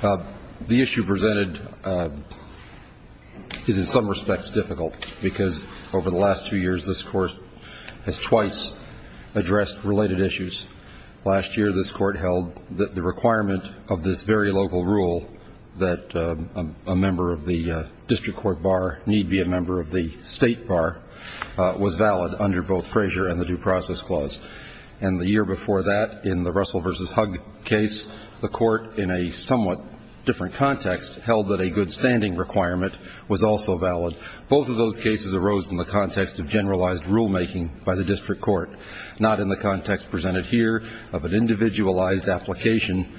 The issue presented is in some respects difficult because over the last two years this Court has twice addressed related issues. Last year this Court held that the requirement of this very local rule that a member of the District Court Bar need be a member of the State Bar was valid under both Frazier and the Due Process Clause. And the year before that in the Russell v. Hug case, the Court in a somewhat different context held that a good standing requirement was also valid. Both of those cases arose in the context of generalized rulemaking by the District Court, not in the context presented here of an individualized application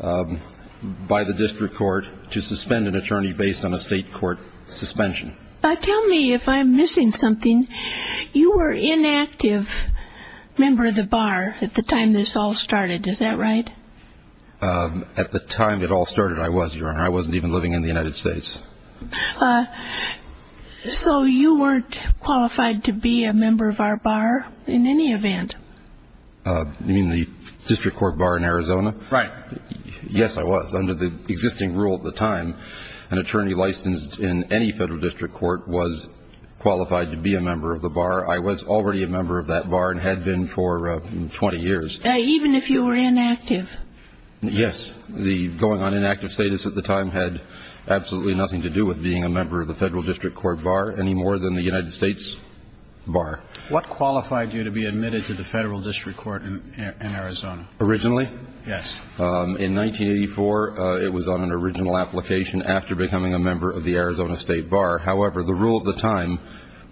by the District Court to suspend an attorney based on a State Court suspension. But tell me if I'm missing something. You were inactive member of the Bar at the time this all started. Is that right? At the time it all started, I was, Your Honor. I wasn't even living in the United States. So you weren't qualified to be a member of our Bar in any event? You mean the District Court Bar in Arizona? Right. Yes, I was. Under the existing rule at the time, an attorney licensed in any federal district court was qualified to be a member of the Bar. I was already a member of that Bar and had been for 20 years. Even if you were inactive? Yes. The going on inactive status at the time had absolutely nothing to do with being a member of the Federal District Court Bar any more than the United States Bar. What qualified you to be admitted to the Federal District Court in Arizona? Originally? Yes. In 1984, it was on an original application after becoming a member of the Arizona State Bar. However, the rule at the time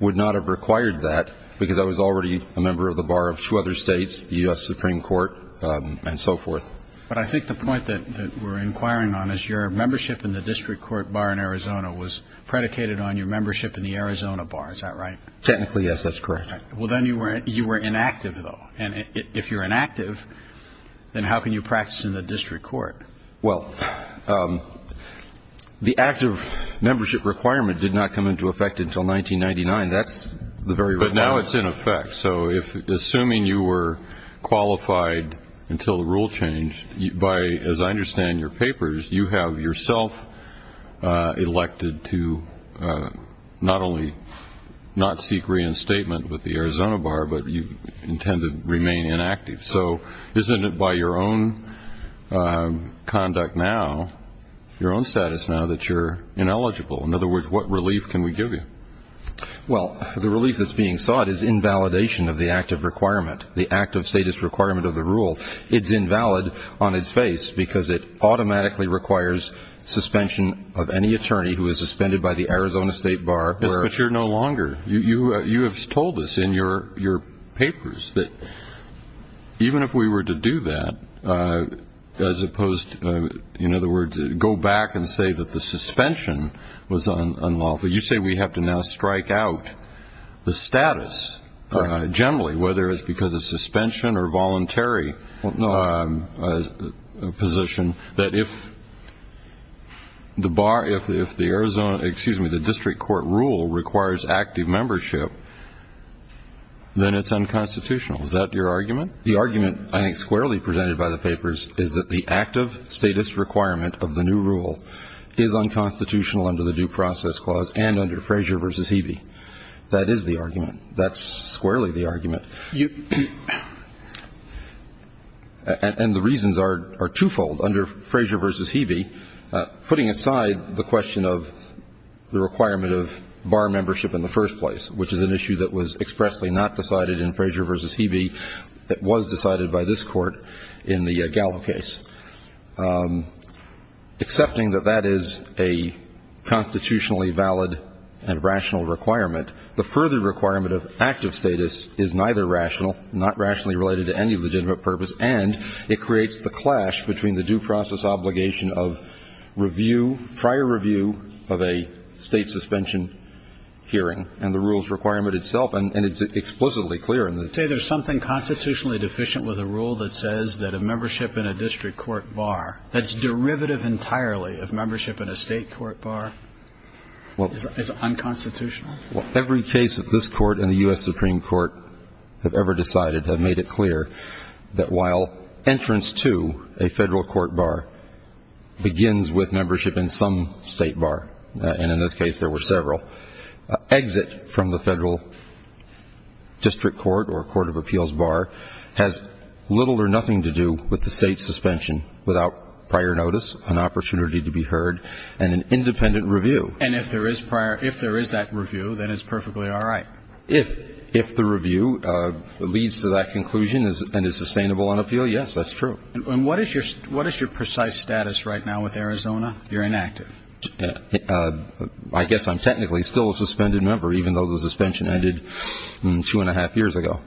would not have required that because I was already a member of the Bar of two other states, the U.S. Supreme Court, and so forth. But I think the point that we're inquiring on is your membership in the District Court Bar in Arizona was predicated on your membership in the Arizona Bar. Is that right? Technically, yes. That's correct. Well, then you were inactive, though. And if you're inactive, then how can you practice in the District Court? Well, the active membership requirement did not come into effect until 1999. That's the very requirement. But now it's in effect. So assuming you were qualified until the rule changed, by as I understand your papers, you have yourself elected to not only not seek reinstatement with the Arizona Bar, but you intend to remain inactive. So isn't it by your own conduct now, your own status now, that you're ineligible? In other words, what relief can we give you? Well, the relief that's being sought is invalidation of the active requirement, the active status requirement of the rule. It's invalid on its face because it automatically requires suspension of any attorney who is suspended by the Arizona State Bar. Yes, but you're no longer. You have told us in your papers that even if we were to do that, as opposed to, in other words, go back and say that the suspension was unlawful, you say we have to now strike out the status generally, whether it's because of suspension or voluntary position, that if the Bar, if the Arizona, excuse me, the District Court rule requires active membership, then it's unconstitutional. Is that your argument? The argument, I think squarely presented by the papers, is that the active status requirement of the new rule is unconstitutional under the Due Process Clause and under Frazier v. Hebe. That is the argument. That's squarely the argument. And the reasons are twofold. Under Frazier v. Hebe, putting aside the question of the requirement of Bar membership in the first place, which is an issue that was expressly not decided in Frazier v. Hebe, it was decided by this Court in the Gallup case, accepting that that is a constitutionally valid and rational requirement, the further requirement of active status is neither rational, not rationally related to any legitimate purpose, and it creates the clash between the due process obligation of review, prior review of a State suspension hearing and the rules requirement itself. And it's explicitly clear in the case. You say there's something constitutionally deficient with a rule that says that a membership in a District Court bar that's derivative entirely of membership in a State court bar is unconstitutional? Every case that this Court and the U.S. Supreme Court have ever decided have made it clear that while entrance to a Federal court bar begins with membership in some State bar, and in this case there were several, exit from the Federal District Court or court of appeals bar has little or nothing to do with the State suspension without prior notice, an opportunity to be heard, and an independent review. And if there is prior – if there is that review, then it's perfectly all right? If the review leads to that conclusion and is sustainable on appeal, yes, that's true. And what is your precise status right now with Arizona? You're inactive. I guess I'm technically still a suspended member, even though the suspension ended two and a half years ago.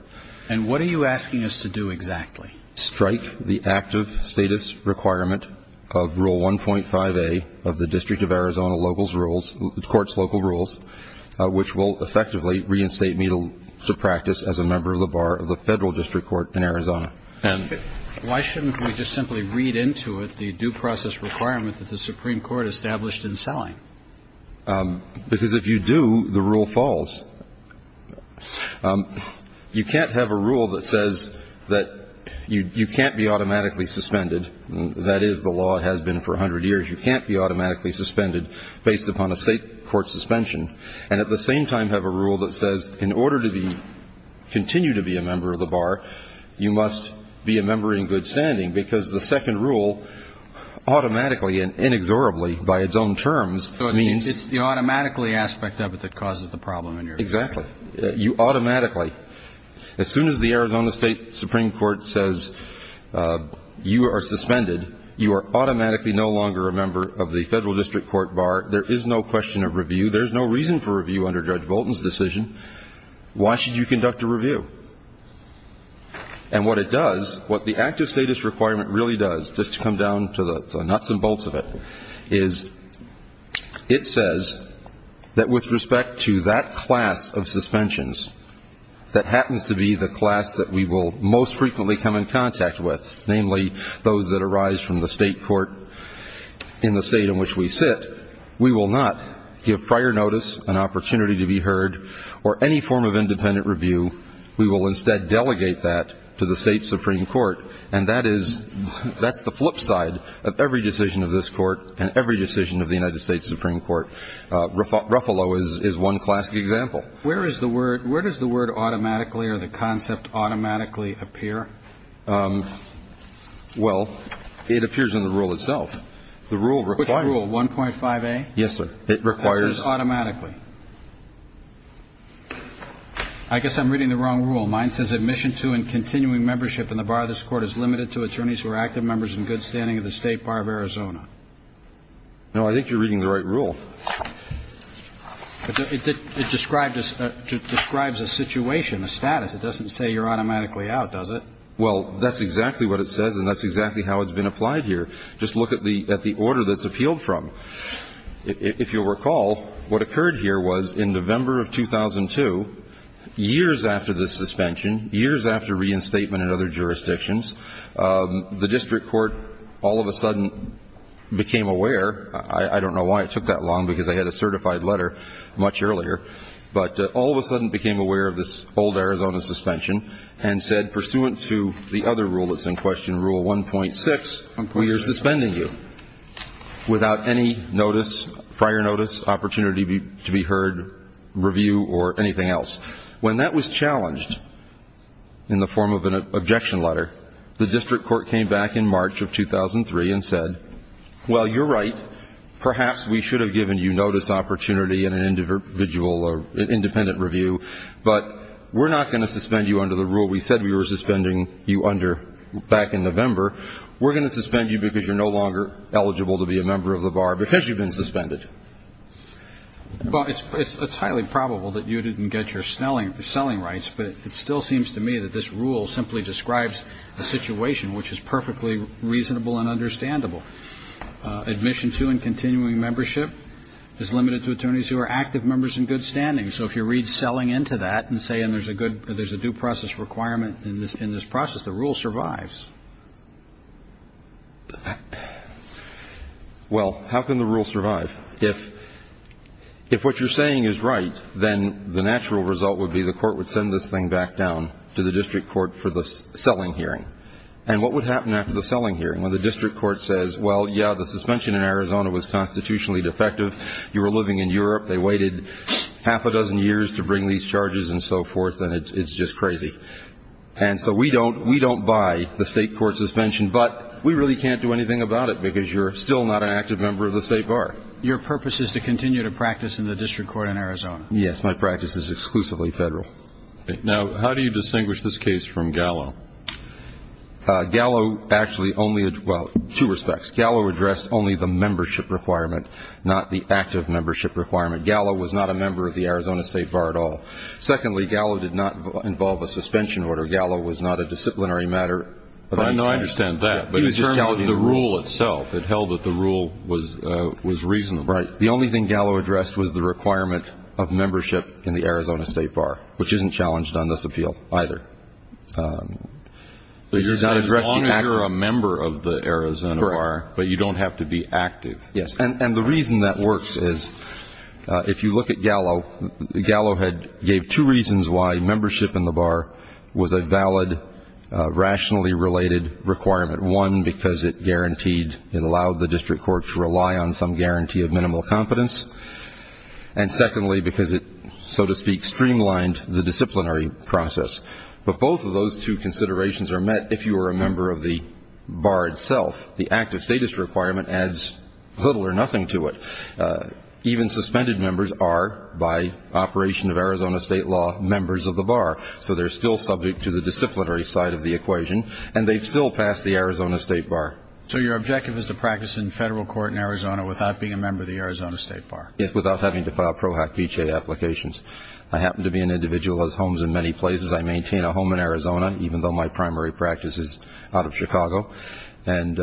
And what are you asking us to do exactly? Strike the active status requirement of Rule 1.5a of the District of Arizona locals' rules – the Court's local rules, which will effectively reinstate me to practice as a member of the bar of the Federal District Court in Arizona. And why shouldn't we just simply read into it the due process requirement that the Supreme Court established in Salling? Because if you do, the rule falls. You can't have a rule that says that you can't be automatically suspended. That is the law. It has been for 100 years. You can't be automatically suspended based upon a State court suspension, and at the same time have a rule that says in order to be – continue to be a member of the bar, you must be a member in good standing, because the second rule automatically and inexorably, by its own terms, means – So it's the automatically aspect of it that causes the problem in your opinion. Exactly. You automatically – as soon as the Arizona State Supreme Court says you are suspended, you are automatically no longer a member of the Federal District Court bar. There is no question of review. There's no reason for review under Judge Bolton's decision. Why should you conduct a review? And what it does – what the active status requirement really does, just to come down to the nuts and bolts of it, is it says that with respect to that class of suspensions that happens to be the class that we will most frequently come in contact with, namely those that arise from the State court in the State in which we sit, we will not give prior notice, an opportunity to be heard, or any form of independent review. We will instead delegate that to the State Supreme Court. And that is – that's the flip side of every decision of this Court and every decision of the United States Supreme Court. Ruffalo is one classic example. Where is the word – where does the word automatically or the concept automatically appear? Well, it appears in the rule itself. The rule requires – Which rule? 1.5A? Yes, sir. It requires – That says automatically. I guess I'm reading the wrong rule. Well, mine says admission to and continuing membership in the bar of this Court is limited to attorneys who are active members in good standing of the State Bar of Arizona. No. I think you're reading the right rule. It describes a situation, a status. It doesn't say you're automatically out, does it? Well, that's exactly what it says, and that's exactly how it's been applied here. Just look at the order that it's appealed from. So if you'll recall, what occurred here was in November of 2002, years after the suspension, years after reinstatement in other jurisdictions, the district court all of a sudden became aware – I don't know why it took that long, because I had a certified letter much earlier – but all of a sudden became aware of this old Arizona suspension and said, pursuant to the other rule that's in question, Rule 1.6, we are suspending you. Without any notice, prior notice, opportunity to be heard, review, or anything else. When that was challenged in the form of an objection letter, the district court came back in March of 2003 and said, well, you're right. Perhaps we should have given you notice, opportunity, and an individual or independent review, but we're not going to suspend you under the rule we said we were suspending you under back in November. We're going to suspend you because you're no longer eligible to be a member of the bar because you've been suspended. Well, it's highly probable that you didn't get your selling rights, but it still seems to me that this rule simply describes the situation, which is perfectly reasonable and understandable. Admission to and continuing membership is limited to attorneys who are active members in good standing. So if you read selling into that and say, and there's a good – there's a due process requirement in this process, the rule survives. Well, how can the rule survive? If what you're saying is right, then the natural result would be the court would send this thing back down to the district court for the selling hearing. And what would happen after the selling hearing when the district court says, well, yeah, the suspension in Arizona was constitutionally defective. You were living in Europe. They waited half a dozen years to bring these charges and so forth, and it's just crazy. And so we don't – we don't buy the state court suspension, but we really can't do anything about it because you're still not an active member of the state bar. Your purpose is to continue to practice in the district court in Arizona. Yes. My practice is exclusively federal. Now, how do you distinguish this case from Gallo? Gallo actually only – well, two respects. First, Gallo addressed only the membership requirement, not the active membership requirement. Gallo was not a member of the Arizona State Bar at all. Secondly, Gallo did not involve a suspension order. Gallo was not a disciplinary matter. I know I understand that, but in terms of the rule itself, it held that the rule was reasonable. Right. The only thing Gallo addressed was the requirement of membership in the Arizona State Bar, which isn't challenged on this appeal either. So you're saying as long as you're a member of the Arizona Bar, but you don't have to be active. Correct. Yes. And the reason that works is, if you look at Gallo, Gallo had – gave two reasons why membership in the bar was a valid, rationally related requirement. One, because it guaranteed – it allowed the district court to rely on some guarantee of minimal competence. And secondly, because it, so to speak, streamlined the disciplinary process. But both of those two considerations are met if you are a member of the bar itself. The active status requirement adds little or nothing to it. Even suspended members are, by operation of Arizona state law, members of the bar. So they're still subject to the disciplinary side of the equation, and they still pass the Arizona State Bar. So your objective is to practice in federal court in Arizona without being a member of the Arizona State Bar? Yes, without having to file PROHAC-BHA applications. I happen to be an individual who has homes in many places. I maintain a home in Arizona, even though my primary practice is out of Chicago. And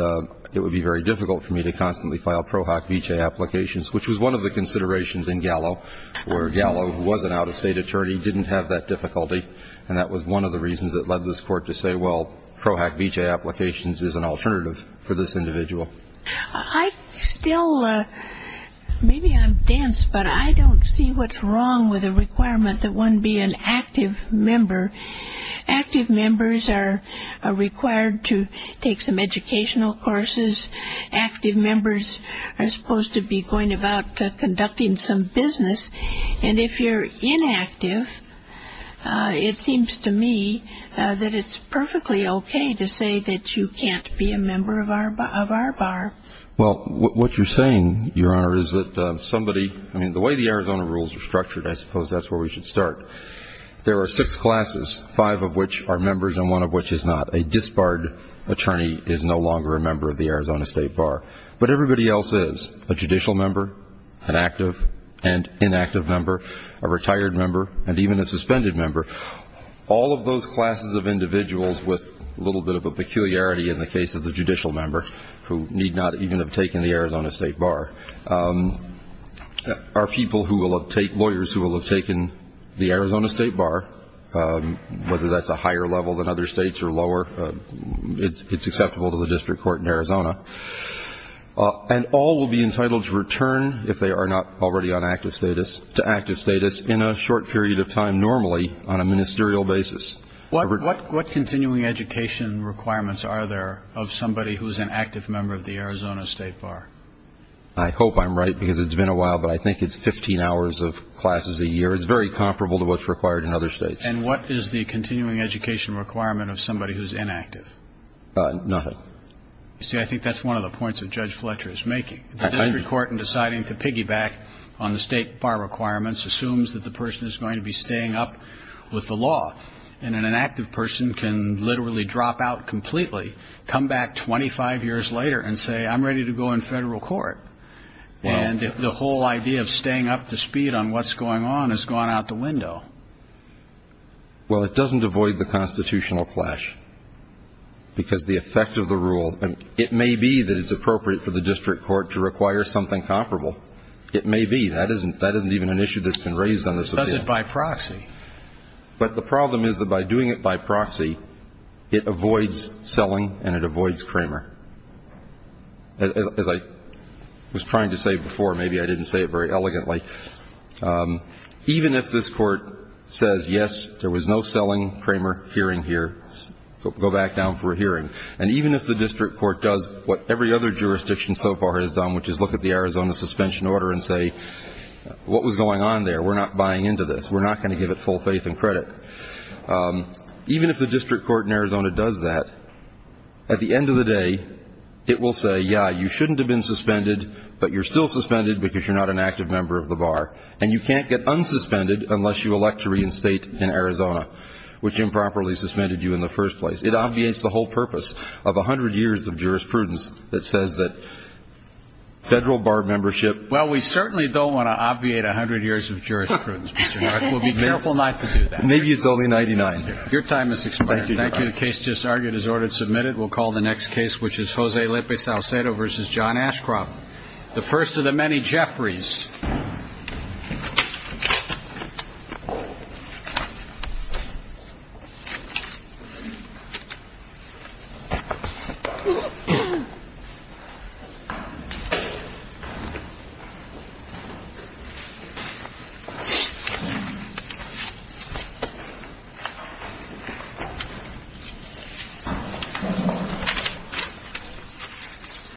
it would be very difficult for me to constantly file PROHAC-BHA applications, which was one of the considerations in Gallo, where Gallo, who was an out-of-state attorney, didn't have that difficulty. And that was one of the reasons that led this court to say, well, PROHAC-BHA applications is an alternative for this individual. I still – maybe I'm dense, but I don't see what's wrong with a requirement that one be an active member. Active members are required to take some educational courses. Active members are supposed to be going about conducting some business. And if you're inactive, it seems to me that it's perfectly okay to say that you can't be a member of our bar. Well, what you're saying, Your Honor, is that somebody – I mean, the way the Arizona rules are structured, I suppose that's where we should start. There are six classes, five of which are members and one of which is not. A disbarred attorney is no longer a member of the Arizona State Bar. But everybody else is – a judicial member, an active and inactive member, a retired member, and even a suspended member. All of those classes of individuals with a little bit of a peculiarity in the case of the judicial member, who need not even have taken the Arizona State Bar, are people who will have taken – lawyers who will have taken the Arizona State Bar, whether that's a higher level than other states or lower, it's acceptable to the district court in Arizona. And all will be entitled to return, if they are not already on active status, to active status in a short period of time normally on a ministerial basis. What continuing education requirements are there of somebody who's an active member of the Arizona State Bar? I hope I'm right, because it's been a while, but I think it's 15 hours of classes a year. It's very comparable to what's required in other states. And what is the continuing education requirement of somebody who's inactive? Nothing. You see, I think that's one of the points that Judge Fletcher is making. The district court, in deciding to piggyback on the State Bar requirements, assumes that the person is going to be staying up with the law. And an inactive person can literally drop out completely, come back 25 years later and say, I'm ready to go in federal court. And the whole idea of staying up to speed on what's going on has gone out the window. Well, it doesn't avoid the constitutional clash, because the effect of the rule, it may be that it's appropriate for the district court to require something comparable. It may be. That isn't even an issue that's been raised on this appeal. Does it by proxy? But the problem is that by doing it by proxy, it avoids selling and it avoids Kramer. As I was trying to say before, maybe I didn't say it very elegantly. Even if this court says, yes, there was no selling Kramer hearing here, go back down for a hearing. And even if the district court does what every other jurisdiction so far has done, which is look at the Arizona suspension order and say, what was going on there? We're not buying into this. We're not going to give it full faith and credit. Even if the district court in Arizona does that, at the end of the day, it will say, yeah, you shouldn't have been suspended, but you're still suspended because you're not an active member of the bar. And you can't get unsuspended unless you elect to reinstate in Arizona, which improperly suspended you in the first place. It obviates the whole purpose of 100 years of jurisprudence that says that federal bar membership. Well, we certainly don't want to obviate 100 years of jurisprudence. We'll be careful not to do that. Maybe it's only 99. Your time is expired. Thank you. The case just argued is ordered submitted. We'll call the next case, which is Jose Lopez Alcedo versus John Ashcroft. The first of the many Jeffreys.